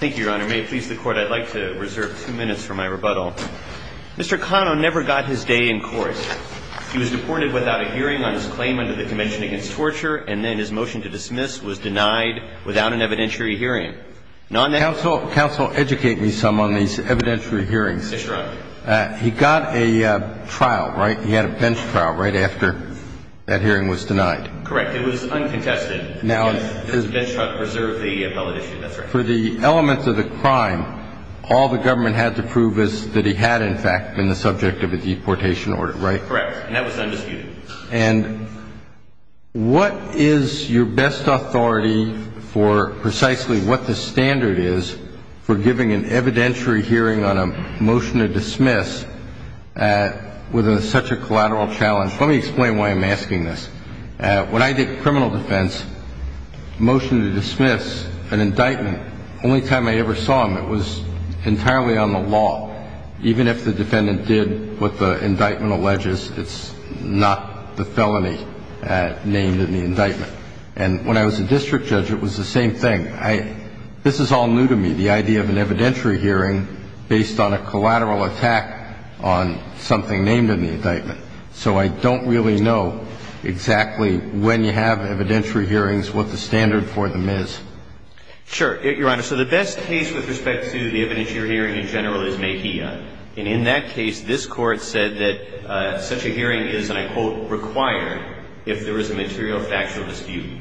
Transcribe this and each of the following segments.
Mr. Cano never got his day in court. He was deported without a hearing on his claim under the Convention Against Torture, and then his motion to dismiss was denied without an evidentiary hearing. He got a trial, right? He had a bench trial right after that hearing was denied. Correct. It was uncontested. For the elements of the crime, all the government had to prove is that he had, in fact, been the subject of a deportation order, right? Correct. And that was undisputed. And what is your best authority for precisely what the standard is for giving an evidentiary hearing on a motion to dismiss with such a collateral challenge? Let me explain why I'm asking this. When I did criminal defense, motion to dismiss, an indictment, only time I ever saw him, it was entirely on the law. Even if the defendant did what the indictment alleges, it's not the felony named in the indictment. And when I was a district judge, it was the same thing. This is all new to me, the idea of an evidentiary hearing based on a collateral attack on something named in the indictment. So I don't really know exactly when you have evidentiary hearings, what the standard for them is. Sure. Your Honor, so the best case with respect to the evidentiary hearing in general is Mejia. And in that case, this Court said that such a hearing is, and I quote, required if there is a material factual dispute.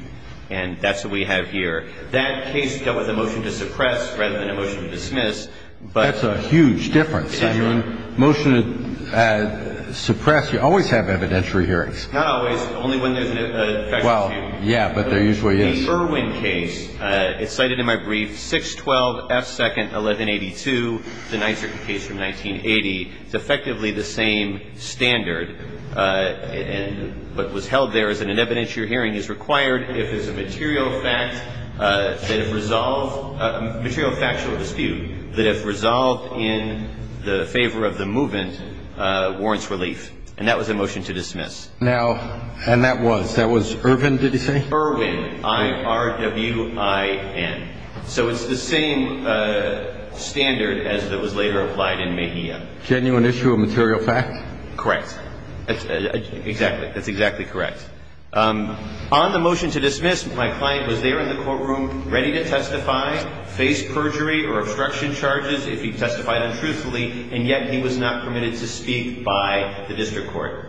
And that's what we have here. That case dealt with a motion to suppress rather than a motion to dismiss. That's a huge difference. Motion to suppress, you always have evidentiary hearings. Not always. Only when there's an factual dispute. Yeah, but there usually is. The Irwin case, it's cited in my brief, 612 F. 2nd, 1182, the Nizer case from 1980. It's effectively the same standard. And what was held there is that an evidentiary hearing is required if there's a material fact that if resolved, in the favor of the movement, warrants relief. And that was a motion to dismiss. Now, and that was? That was Irwin, did you say? Irwin, I-R-W-I-N. So it's the same standard as that was later applied in Mejia. Genuine issue of material fact? Correct. Exactly. That's exactly correct. On the motion to dismiss, my client was there in the courtroom ready to testify, face perjury or obstruction charges if he testified untruthfully, and yet he was not permitted to speak by the district court.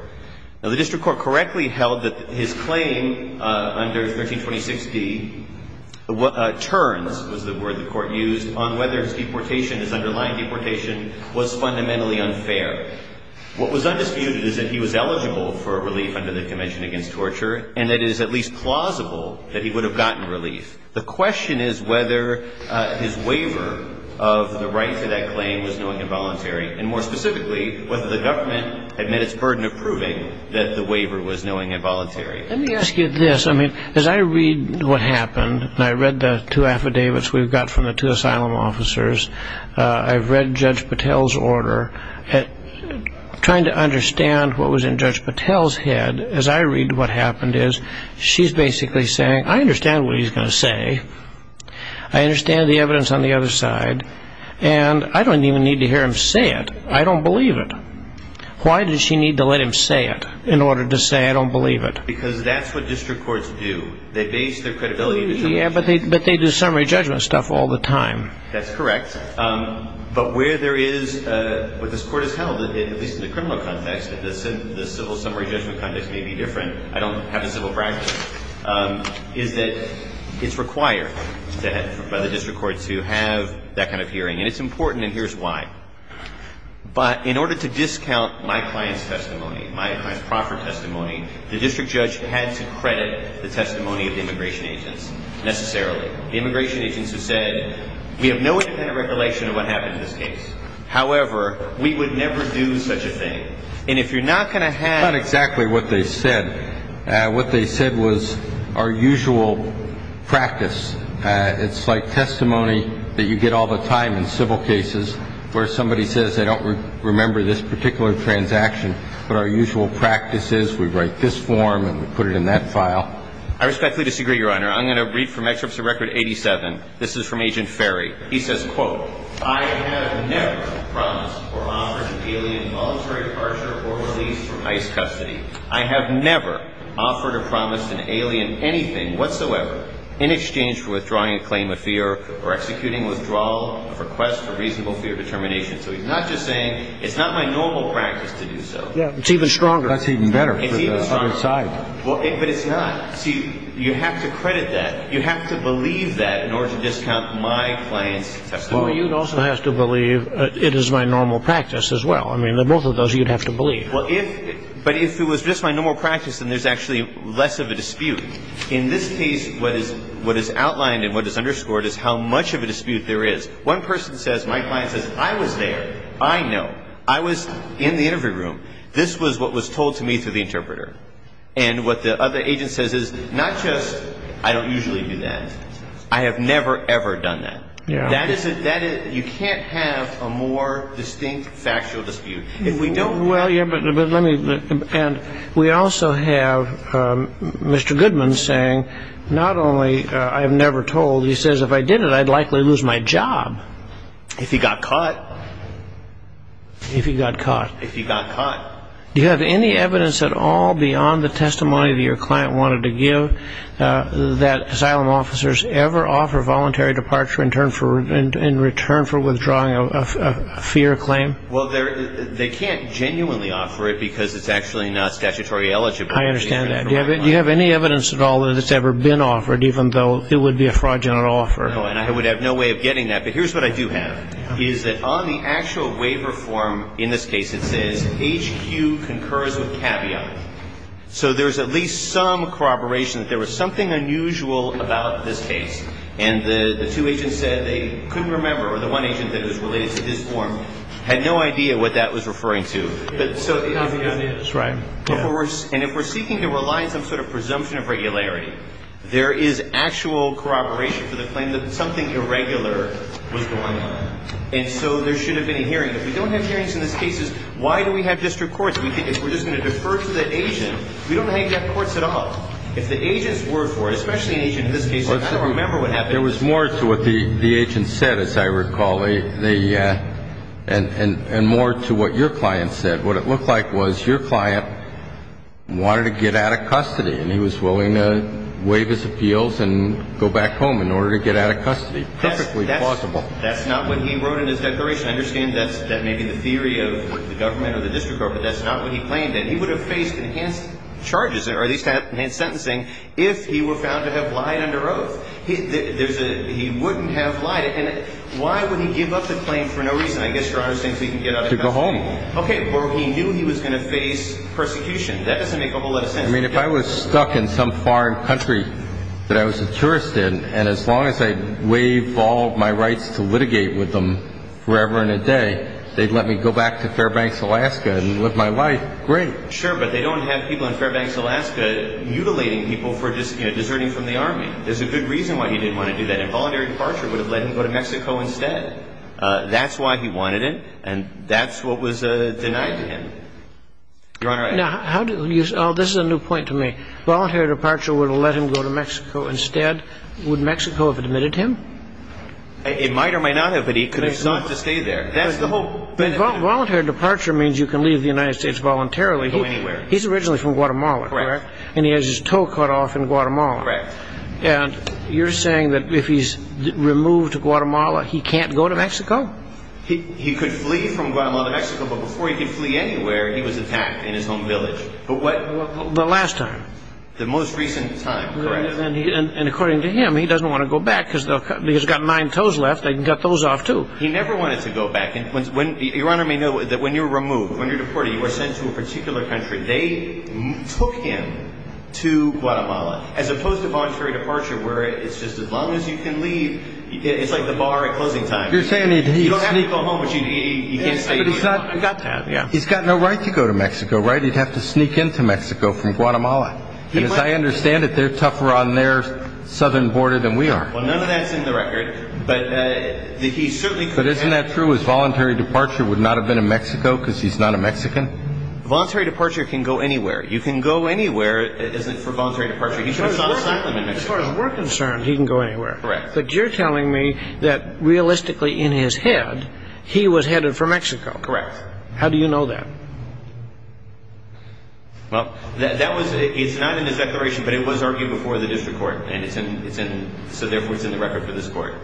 Now, the district court correctly held that his claim under 1326D, turns was the word the court used, on whether his deportation, his underlying deportation, was fundamentally unfair. What was undisputed is that he was eligible for relief under the Convention Against Torture, and that it is at least plausible that he would have gotten relief. The question is whether his waiver of the right to that claim was knowingly involuntary, and more specifically, whether the government had met its burden of proving that the waiver was knowingly involuntary. Let me ask you this. I mean, as I read what happened, and I read the two affidavits we've got from the two asylum officers, I've read Judge Patel's order. Trying to understand what was in Judge Patel's head, as I read what happened, is she's basically saying, I understand what he's going to say. I understand the evidence on the other side, and I don't even need to hear him say it. I don't believe it. Why does she need to let him say it in order to say I don't believe it? Because that's what district courts do. They base their credibility on the judgment. Yeah, but they do summary judgment stuff all the time. That's correct. But where there is what this court has held, at least in the criminal context, the civil summary judgment context may be different. I don't have the civil practice, is that it's required by the district courts to have that kind of hearing. And it's important, and here's why. But in order to discount my client's testimony, my client's proffer testimony, the district judge had to credit the testimony of the immigration agents necessarily. The immigration agents who said, we have no independent regulation of what happened in this case. However, we would never do such a thing. And if you're not going to have- It's not exactly what they said. What they said was our usual practice. It's like testimony that you get all the time in civil cases where somebody says, I don't remember this particular transaction, but our usual practice is we write this form and we put it in that file. I respectfully disagree, Your Honor. I'm going to read from excerpts of Record 87. This is from Agent Ferry. He says, quote, I have never promised or offered an alien voluntary torture or release from ICE custody. I have never offered or promised an alien anything whatsoever in exchange for withdrawing a claim of fear or executing withdrawal of a request for reasonable fear determination. So he's not just saying it's not my normal practice to do so. Yeah, it's even stronger. That's even better for the other side. But it's not. See, you have to credit that. You have to believe that in order to discount my client's testimony. Well, you'd also have to believe it is my normal practice as well. I mean, both of those you'd have to believe. But if it was just my normal practice, then there's actually less of a dispute. In this case, what is outlined and what is underscored is how much of a dispute there is. One person says, my client says, I was there. I know. I was in the interview room. This was what was told to me through the interpreter. And what the other agent says is not just I don't usually do that. I have never, ever done that. You can't have a more distinct factual dispute. Well, yeah, but let me. And we also have Mr. Goodman saying not only I have never told. He says if I did it, I'd likely lose my job. If he got caught. If he got caught. If he got caught. Do you have any evidence at all beyond the testimony that your client wanted to give that asylum officers ever offer voluntary departure in return for withdrawing a fear claim? Well, they can't genuinely offer it because it's actually not statutory eligible. I understand that. Do you have any evidence at all that it's ever been offered even though it would be a fraudulent offer? No, and I would have no way of getting that. But here's what I do have. Is that on the actual waiver form, in this case, it says HQ concurs with caveat. So there's at least some corroboration that there was something unusual about this case. And the two agents said they couldn't remember or the one agent that was related to this form had no idea what that was referring to. But so. Right. And if we're seeking to rely on some sort of presumption of regularity, there is actual corroboration for the claim that something irregular was going on. And so there should have been a hearing. If we don't have hearings in these cases, why do we have district courts? If we're just going to defer to the agent, we don't have to have courts at all. If the agents were for it, especially an agent in this case, I don't remember what happened. There was more to what the agent said, as I recall, and more to what your client said. What it looked like was your client wanted to get out of custody, and he was willing to waive his appeals and go back home in order to get out of custody. Perfectly plausible. That's not what he wrote in his declaration. I understand that may be the theory of the government or the district court, but that's not what he claimed. And he would have faced enhanced charges or at least enhanced sentencing if he were found to have lied under oath. He wouldn't have lied. And why would he give up the claim for no reason? I guess Your Honor is saying so he can get out of custody. To go home. Okay. Or he knew he was going to face persecution. That doesn't make a whole lot of sense. I mean, if I was stuck in some foreign country that I was a tourist in, and as long as I waived all my rights to litigate with them forever and a day, they'd let me go back to Fairbanks, Alaska, and live my life. Great. Sure, but they don't have people in Fairbanks, Alaska, mutilating people for deserting from the Army. There's a good reason why he didn't want to do that. Involuntary departure would have let him go to Mexico instead. That's why he wanted it, and that's what was denied to him. Your Honor, I ask. This is a new point to me. Voluntary departure would have let him go to Mexico instead. Would Mexico have admitted him? It might or might not have, but he could have stopped to stay there. That's the whole benefit. Voluntary departure means you can leave the United States voluntarily. You can go anywhere. He's originally from Guatemala. Correct. And he has his toe cut off in Guatemala. Correct. And you're saying that if he's removed to Guatemala, he can't go to Mexico? He could flee from Guatemala to Mexico, but before he could flee anywhere, he was attacked in his home village. The last time? The most recent time. Correct. And according to him, he doesn't want to go back because he's got nine toes left. They can cut those off, too. He never wanted to go back. Your Honor may know that when you're removed, when you're deported, you are sent to a particular country, they took him to Guatemala, as opposed to voluntary departure where it's just as long as you can leave. It's like the bar at closing time. You don't have to go home, but you can't stay. I got that, yeah. He's got no right to go to Mexico, right? He'd have to sneak into Mexico from Guatemala. And as I understand it, they're tougher on their southern border than we are. Well, none of that's in the record, but he certainly could have. But isn't that true? His voluntary departure would not have been in Mexico because he's not a Mexican? Voluntary departure can go anywhere. You can go anywhere for voluntary departure. As far as we're concerned, he can go anywhere. Correct. But you're telling me that realistically in his head, he was headed for Mexico. Correct. How do you know that? Well, it's not in his declaration, but it was argued before the district court, and so therefore it's in the record for this court.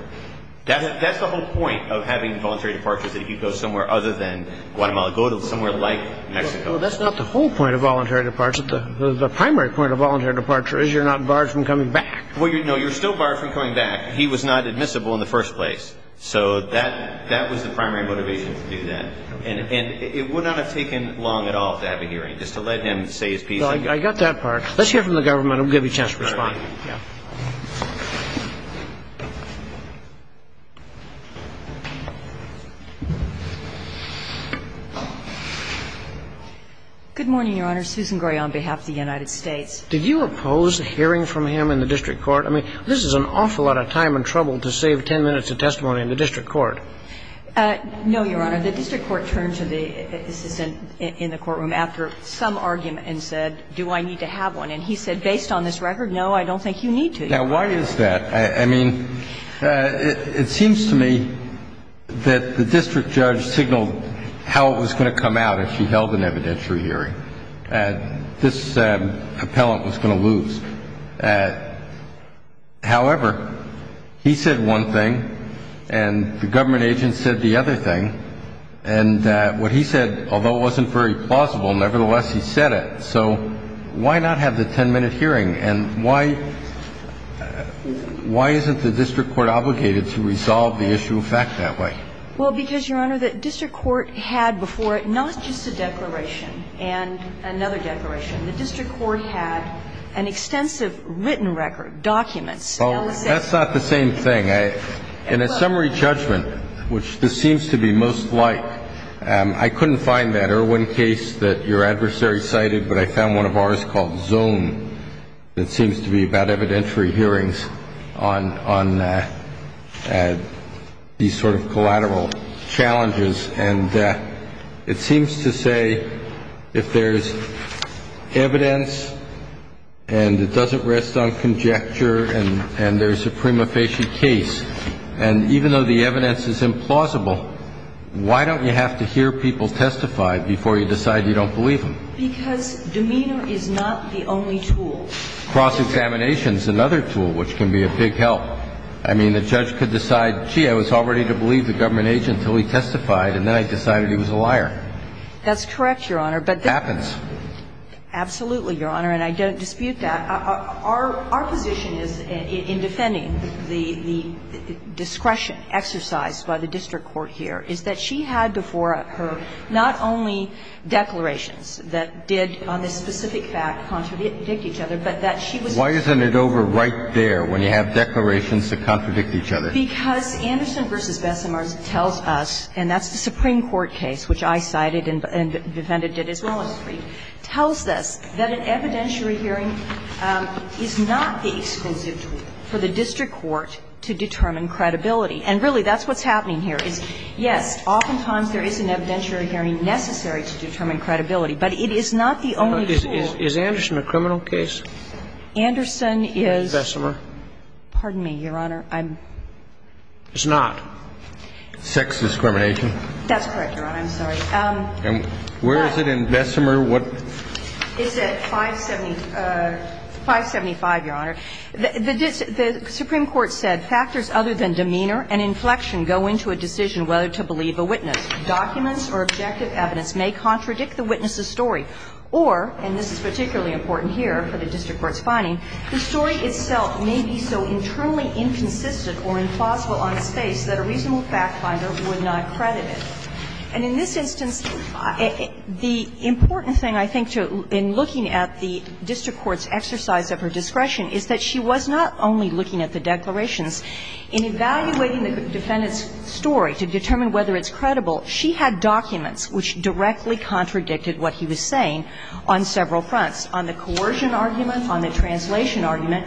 That's the whole point of having voluntary departure, is that he goes somewhere other than Guatemala. Go to somewhere like Mexico. Well, that's not the whole point of voluntary departure. The primary point of voluntary departure is you're not barred from coming back. No, you're still barred from coming back. He was not admissible in the first place. So that was the primary motivation to do that. And it would not have taken long at all to have a hearing, just to let him say his piece. I got that part. Let's hear from the government. We'll give you a chance to respond. All right. Good morning, Your Honor. Susan Gray on behalf of the United States. Did you oppose hearing from him in the district court? I mean, this is an awful lot of time and trouble to save 10 minutes of testimony in the district court. No, Your Honor. The district court turned to the assistant in the courtroom after some argument and said, do I need to have one? And he said, based on this record, no, I don't think you need to. Now, why is that? I mean, it seems to me that the district judge signaled how it was going to come out if she held an evidentiary hearing. And this appellant was going to lose. However, he said one thing, and the government agent said the other thing. And what he said, although it wasn't very plausible, nevertheless, he said it. So why not have the 10-minute hearing? And why isn't the district court obligated to resolve the issue of fact that way? Well, because, Your Honor, the district court had before it not just a declaration and another declaration. The district court had an extensive written record, documents. Oh, that's not the same thing. In a summary judgment, which this seems to be most like, I couldn't find that Irwin case that your adversary cited, but I found one of ours called Zone that seems to be about evidentiary hearings on these sort of collateral challenges. And it seems to say if there's evidence and it doesn't rest on conjecture and there's a prima facie case, and even though the evidence is implausible, why don't you have to hear people testify before you decide you don't believe them? Because demeanor is not the only tool. Cross-examination is another tool, which can be a big help. I mean, the judge could decide, gee, I was all ready to believe the government agent until he testified, and then I decided he was a liar. That's correct, Your Honor. It happens. Absolutely, Your Honor, and I don't dispute that. Our position is, in defending the discretion exercised by the district court here, is that she had before her not only declarations that did, on this specific fact, contradict each other, but that she was. Why isn't it over right there when you have declarations that contradict each other? Because Anderson v. Bessemer tells us, and that's the Supreme Court case, which I cited and Vivenna did as well, tells us that an evidentiary hearing is not the exclusive tool for the district court to determine credibility. And really, that's what's happening here, is, yes, oftentimes there is an evidentiary hearing necessary to determine credibility, but it is not the only tool. Is Anderson a criminal case? Anderson is. And Bessemer? Pardon me, Your Honor. It's not. Sex discrimination. That's correct, Your Honor. I'm sorry. Where is it in Bessemer? It's at 575, Your Honor. The Supreme Court said, Factors other than demeanor and inflection go into a decision whether to believe a witness. Documents or objective evidence may contradict the witness's story. Or, and this is particularly important here for the district court's finding, the story itself may be so internally inconsistent or implausible on its face that a reasonable fact finder would not credit it. And in this instance, the important thing, I think, in looking at the district court's exercise of her discretion is that she was not only looking at the declarations. In evaluating the defendant's story to determine whether it's credible, she had documents which directly contradicted what he was saying on several fronts, on the coercion argument, on the translation argument,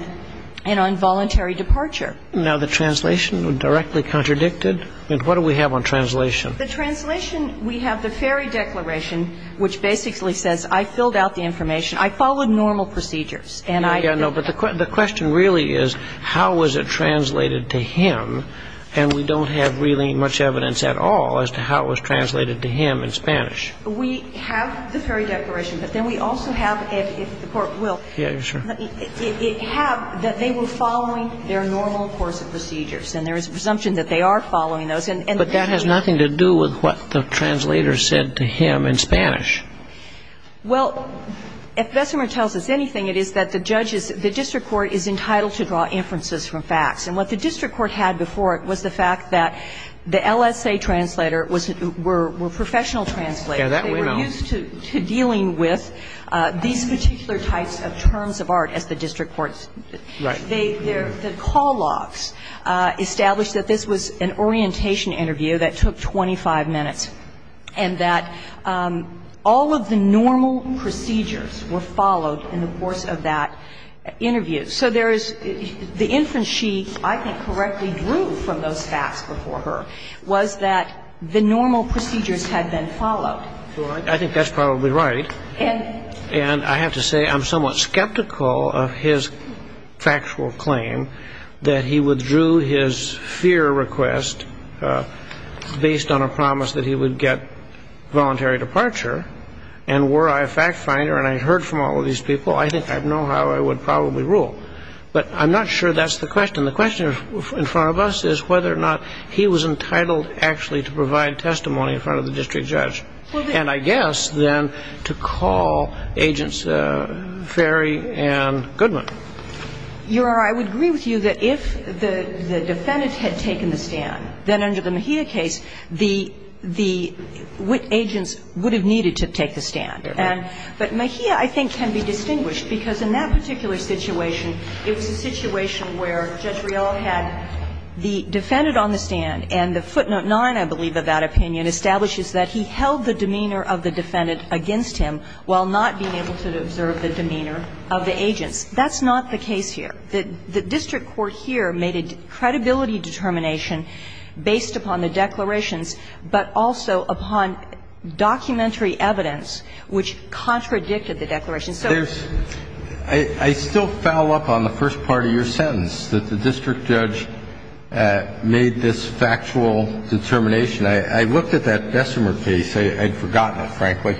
and on voluntary departure. Now, the translation directly contradicted? I mean, what do we have on translation? The translation, we have the Ferry Declaration, which basically says, I filled out the information. I followed normal procedures. Yeah, no, but the question really is, how was it translated to him? And we don't have really much evidence at all as to how it was translated to him in Spanish. We have the Ferry Declaration, but then we also have, if the Court will, it have that they were following their normal course of procedures. And there is a presumption that they are following those. But that has nothing to do with what the translator said to him in Spanish. Well, if Bessemer tells us anything, it is that the judges, the district court is entitled to draw inferences from facts. And what the district court had before it was the fact that the LSA translator were professional translators. They were used to dealing with these particular types of terms of art as the district court. Right. The call logs established that this was an orientation interview that took 25 minutes and that all of the normal procedures were followed in the course of that interview. So there is the inference she, I think, correctly drew from those facts before her was that the normal procedures had been followed. I think that's probably right. And I have to say I'm somewhat skeptical of his factual claim that he withdrew his fear request based on a promise that he would get voluntary departure. And were I a fact finder and I heard from all of these people, I think I'd know how I would probably rule. But I'm not sure that's the question. And the question in front of us is whether or not he was entitled actually to provide testimony in front of the district judge. And I guess then to call Agents Ferry and Goodman. Your Honor, I would agree with you that if the defendant had taken the stand, then under the Mejia case, the agents would have needed to take the stand. But Mejia, I think, can be distinguished because in that particular situation it was a situation where Judge Rial had the defendant on the stand and the footnote 9, I believe, of that opinion establishes that he held the demeanor of the defendant against him while not being able to observe the demeanor of the agents. That's not the case here. The district court here made a credibility determination based upon the declarations, but also upon documentary evidence which contradicted the declarations. I still foul up on the first part of your sentence, that the district judge made this factual determination. I looked at that Bessemer case. I'd forgotten it, frankly,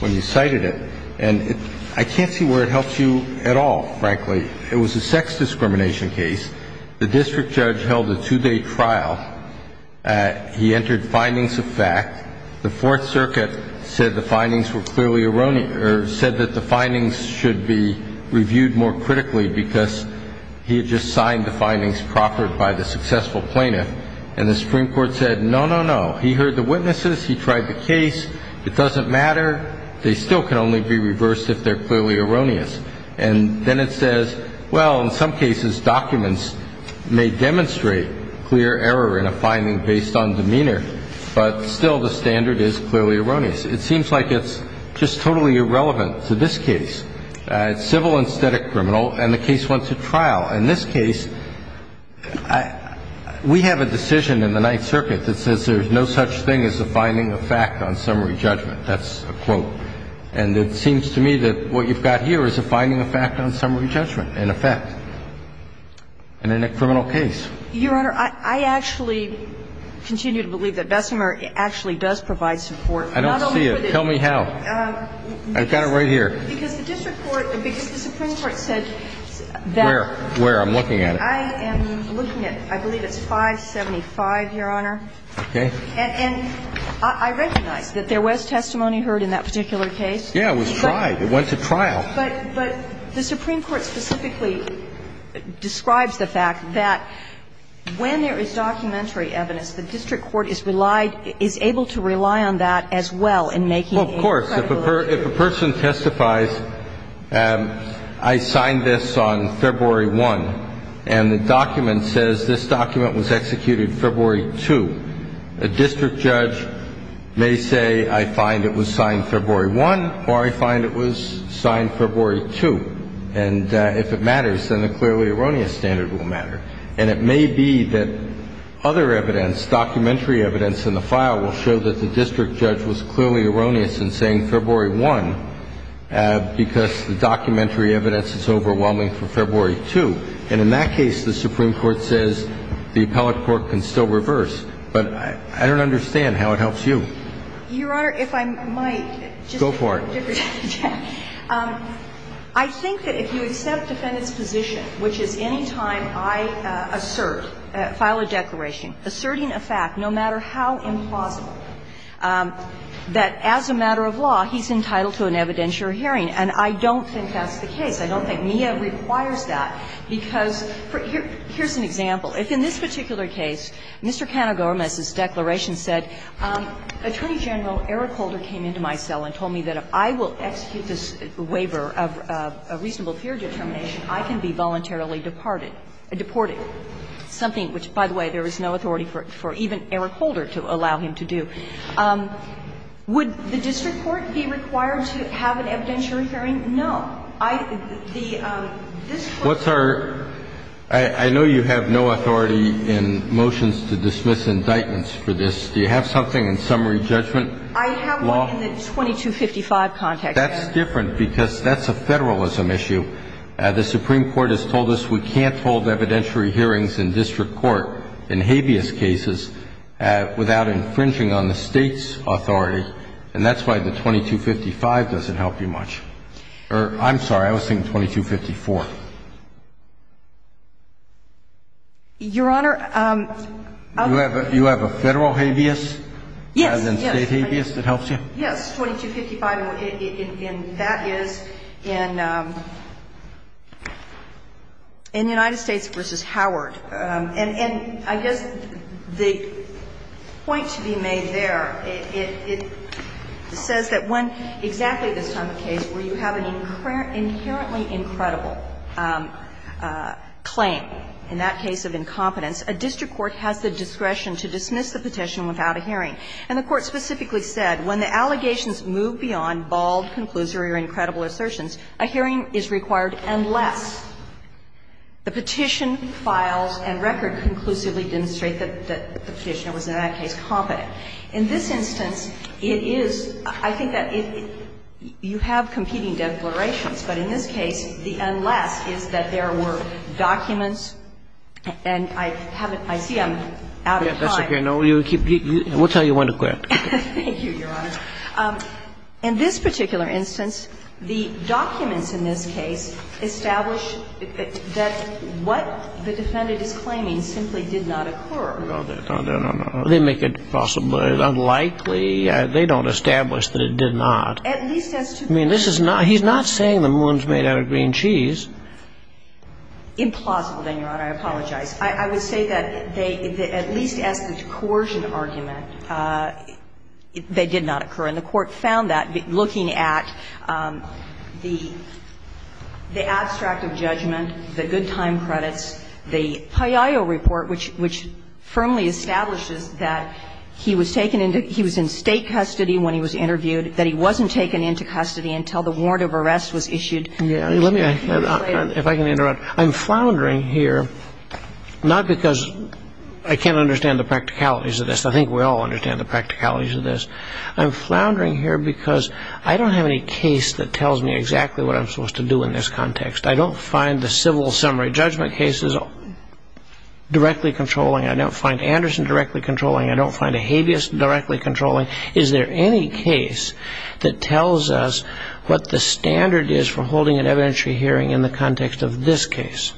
when you cited it. And I can't see where it helps you at all, frankly. It was a sex discrimination case. The district judge held a two-day trial. He entered findings of fact. The Fourth Circuit said the findings were clearly erroneous or said that the findings should be reviewed more critically because he had just signed the findings proffered by the successful plaintiff. And the Supreme Court said, no, no, no. He heard the witnesses. He tried the case. It doesn't matter. They still can only be reversed if they're clearly erroneous. And then it says, well, in some cases documents may demonstrate clear error in a finding based on demeanor. But still the standard is clearly erroneous. It seems like it's just totally irrelevant to this case. It's civil and static criminal. And the case went to trial. In this case, we have a decision in the Ninth Circuit that says there's no such thing as a finding of fact on summary judgment. That's a quote. And it seems to me that what you've got here is a finding of fact on summary judgment in effect in a criminal case. Your Honor, I actually continue to believe that Bessemer actually does provide support. I don't see it. Tell me how. I've got it right here. Because the district court or because the Supreme Court said that. Where? Where? I'm looking at it. I am looking at it. I believe it's 575, Your Honor. Okay. Yeah, it was tried. It went to trial. But the Supreme Court specifically describes the fact that when there is documentary evidence, the district court is relied, is able to rely on that as well in making it credible. Well, of course. If a person testifies, I signed this on February 1, and the document says this document was executed February 2, a district judge may say I find it was signed February 1 or I find it was signed February 2. And if it matters, then a clearly erroneous standard will matter. And it may be that other evidence, documentary evidence in the file will show that the district judge was clearly erroneous in saying February 1 because the documentary evidence is overwhelming for February 2. And in that case, the Supreme Court says the appellate court can still reverse. But I don't understand how it helps you. Your Honor, if I might. Go for it. I think that if you accept defendant's position, which is any time I assert, file a declaration, asserting a fact, no matter how implausible, that as a matter of law, he's entitled to an evidentiary hearing. And I don't think that's the case. I don't think NEA requires that, because here's an example. If in this particular case, Mr. Canegormis's declaration said, Attorney General Eric Holder came into my cell and told me that if I will execute this waiver of a reasonable peer determination, I can be voluntarily deported, something which, by the way, there is no authority for even Eric Holder to allow him to do. Would the district court be required to have an evidentiary hearing? No. What's our – I know you have no authority in motions to dismiss indictments for this. Do you have something in summary judgment? I have one in the 2255 context. That's different, because that's a federalism issue. The Supreme Court has told us we can't hold evidentiary hearings in district court in habeas cases without infringing on the State's authority, and that's why the 2255 doesn't help you much. I'm sorry. I was saying 2254. Your Honor, I'm – You have a federal habeas? Yes. As in State habeas that helps you? Yes. 2255, and that is in United States v. Howard. And I guess the point to be made there, it says that when exactly this time of case where you have an inherently incredible claim, in that case of incompetence, a district court has the discretion to dismiss the petition without a hearing. And the Court specifically said, when the allegations move beyond bald conclusory or incredible assertions, a hearing is required unless the petition files and record conclusively demonstrate that the petitioner was in that case competent. In this instance, it is – I think that you have competing declarations, but in this case, the unless is that there were documents, and I haven't – I see I'm out of time. That's okay. We'll tell you when to quit. Thank you, Your Honor. In this particular instance, the documents in this case establish that what the defendant is claiming simply did not occur. No, no, no, no. They make it possibly unlikely. They don't establish that it did not. At least as to the – I mean, this is not – he's not saying the moon's made out of green cheese. Implausible, then, Your Honor. I apologize. I would say that they – at least as to the coercion argument, they did not occur. And the Court found that looking at the abstract of judgment, the good time credits, the PAYAO report, which firmly establishes that he was taken into – he was in State custody when he was interviewed, that he wasn't taken into custody until the warrant of arrest was issued. Let me – if I can interrupt. I'm floundering here not because I can't understand the practicalities of this. I think we all understand the practicalities of this. I'm floundering here because I don't have any case that tells me exactly what I'm supposed to do in this context. I don't find the civil summary judgment cases directly controlling. I don't find Anderson directly controlling. I don't find Ahabeus directly controlling. Is there any case that tells us what the standard is for holding an evidentiary hearing in the context of this case?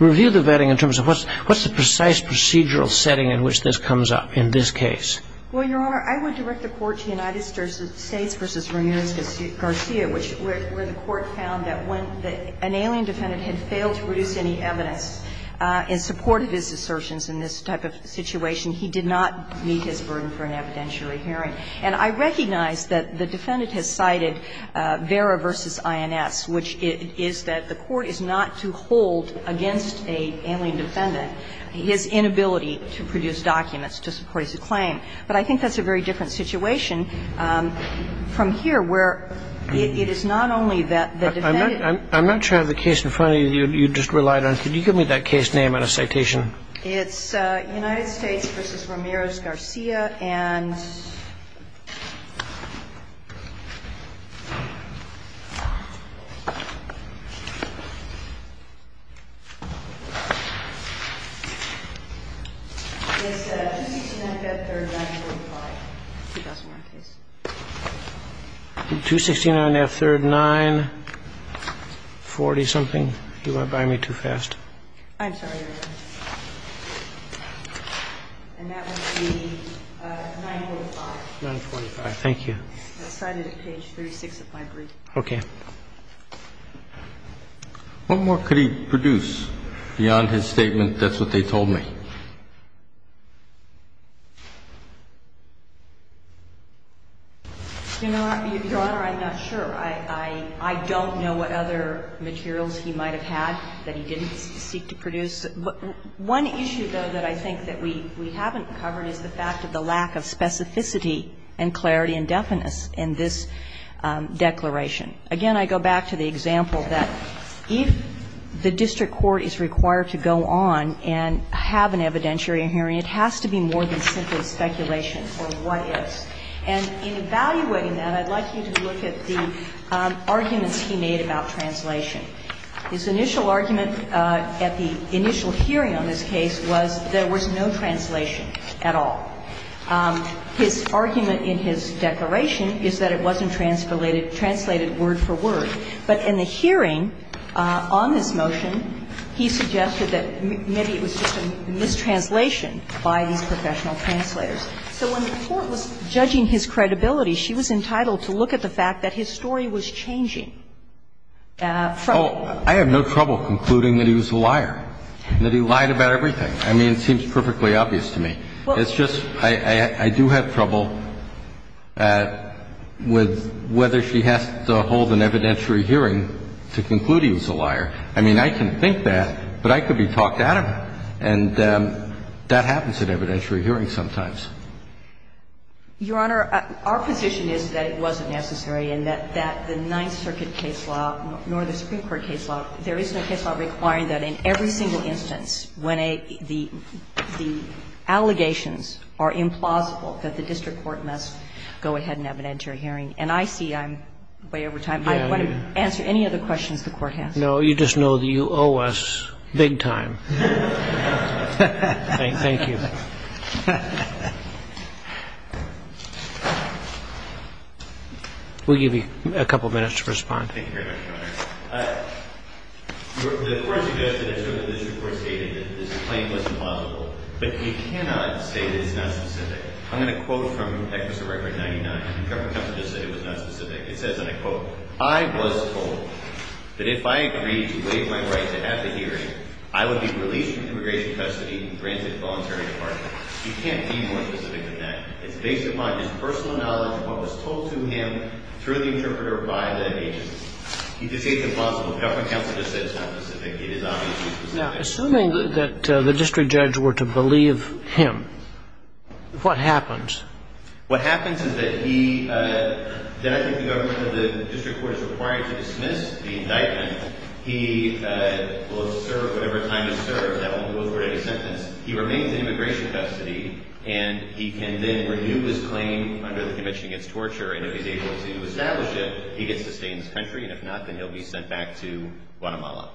Review the vetting in terms of what's the precise procedural setting in which this comes up in this case? Well, Your Honor, I would direct the Court to United States v. Ramirez Garcia, where the Court found that when an alien defendant had failed to produce any evidence and supported his assertions in this type of situation, he did not meet his burden for an evidentiary hearing. And I recognize that the defendant has cited Vera v. INS, which is that the Court is not to hold against an alien defendant his inability to produce documents to support his claim. But I think that's a very different situation from here, where it is not only that the defendant. I'm not sure I have the case in front of me that you just relied on. Could you give me that case name and a citation? It's United States v. Ramirez Garcia and 269F3940. 269F3940-something? You want to buy me too fast? I'm sorry, Your Honor. And that would be 945. 945. Thank you. It's cited at page 36 of my brief. Okay. What more could he produce beyond his statement, that's what they told me? Your Honor, I'm not sure. I don't know what other materials he might have had that he didn't seek to produce. One issue, though, that I think that we haven't covered is the fact of the lack of specificity and clarity and definiteness in this declaration. Again, I go back to the example that if the district court is required to go on and have an evidentiary hearing, it has to be more than simply speculation or what is. And in evaluating that, I'd like you to look at the arguments he made about translation. His initial argument at the initial hearing on this case was there was no translation at all. His argument in his declaration is that it wasn't translated word for word. But in the hearing on this motion, he suggested that maybe it was just a mistranslation by these professional translators. So when the Court was judging his credibility, she was entitled to look at the fact that his story was changing from the court. I have no trouble concluding that he was a liar, that he lied about everything. I mean, it seems perfectly obvious to me. It's just I do have trouble with whether she has to hold an evidentiary hearing to conclude he was a liar. I mean, I can think that, but I could be talked out of it. And that happens at evidentiary hearings sometimes. Your Honor, our position is that it wasn't necessary and that the Ninth Circuit case law, nor the Supreme Court case law, there is no case law requiring that in every single instance when the allegations are implausible that the district court must go ahead and have an evidentiary hearing. And I see I'm way over time. I want to answer any other questions the Court has. No, you just know that you owe us big time. Thank you. We'll give you a couple minutes to respond. Thank you very much, Your Honor. The Court suggested, as sort of this report stated, that this claim was implausible. But you cannot say that it's not specific. I'm going to quote from Executive Record 99. The government just said it was not specific. It says, and I quote, I was told that if I agreed to waive my right to have the hearing, I would be released from immigration custody and granted voluntary departure. You can't be more specific than that. It's based upon his personal knowledge of what was told to him through the interpreter by the agents. He did say it's implausible. The government counsel just said it's not specific. It is obviously specific. Now, assuming that the district judge were to believe him, what happens? What happens is that he, then I think the government or the district court is required to dismiss the indictment. He will serve whatever time he serves. That only goes for a sentence. He remains in immigration custody, and he can then renew his claim under the Convention Against Torture, and if he's able to establish it, he gets to stay in this country. And if not, then he'll be sent back to Guatemala.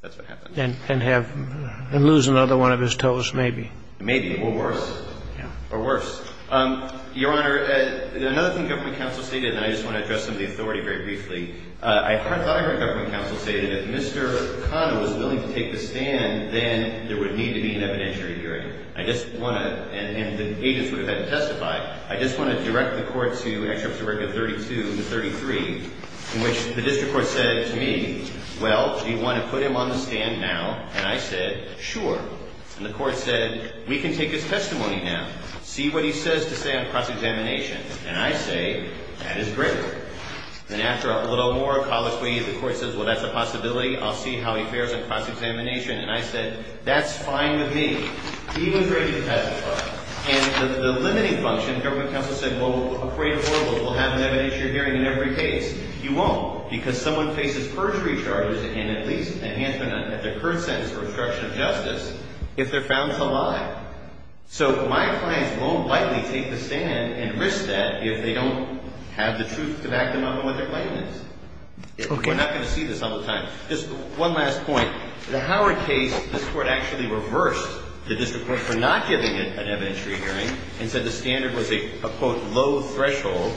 That's what happens. And lose another one of his toes, maybe. Maybe. Or worse. Or worse. Your Honor, another thing government counsel stated, and I just want to address some of the authority very briefly. I thought I heard government counsel say that if Mr. Kahn was willing to take the stand, then there would need to be an evidentiary hearing. I just want to, and the agents would have had to testify, I just want to direct the court to Excerpts of Record 32 and 33, in which the district court said to me, well, do you want to put him on the stand now? And I said, sure. And the court said, we can take his testimony now. See what he says to say on cross-examination. And I say, that is great. And after a little more colloquy, the court says, well, that's a possibility. I'll see how he fares on cross-examination. And I said, that's fine with me. He was ready to testify. And the limiting function, government counsel said, well, a crate of horrible will have an evidentiary hearing in every case. You won't, because someone faces perjury charges and at least enhancement at their current sentence for obstruction of justice if they're found to lie. So my clients won't lightly take the stand and risk that if they don't have the truth to back them up on what their claim is. We're not going to see this all the time. Just one last point. In the Howard case, this Court actually reversed the district court for not giving it an evidentiary hearing and said the standard was a, quote, low threshold.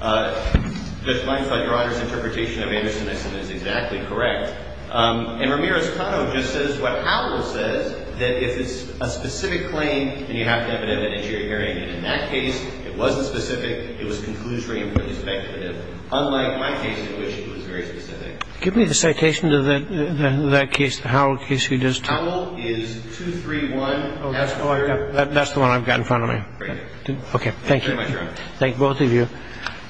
Judge Meyers, I thought Your Honor's interpretation of Anderson, I assume, is exactly correct. And Ramirez-Cano just says what Howard says, that if it's a specific claim, then you have to have an evidentiary hearing. And in that case, it wasn't specific. It was conclusory and pretty speculative, unlike my case in which it was very specific. Give me the citation to that case, the Howell case. Howell is 231. That's the one I've got in front of me. Okay. Thank you. Thank both of you.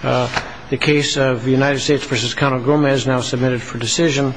The case of United States v. Cano Gomez now submitted for decision.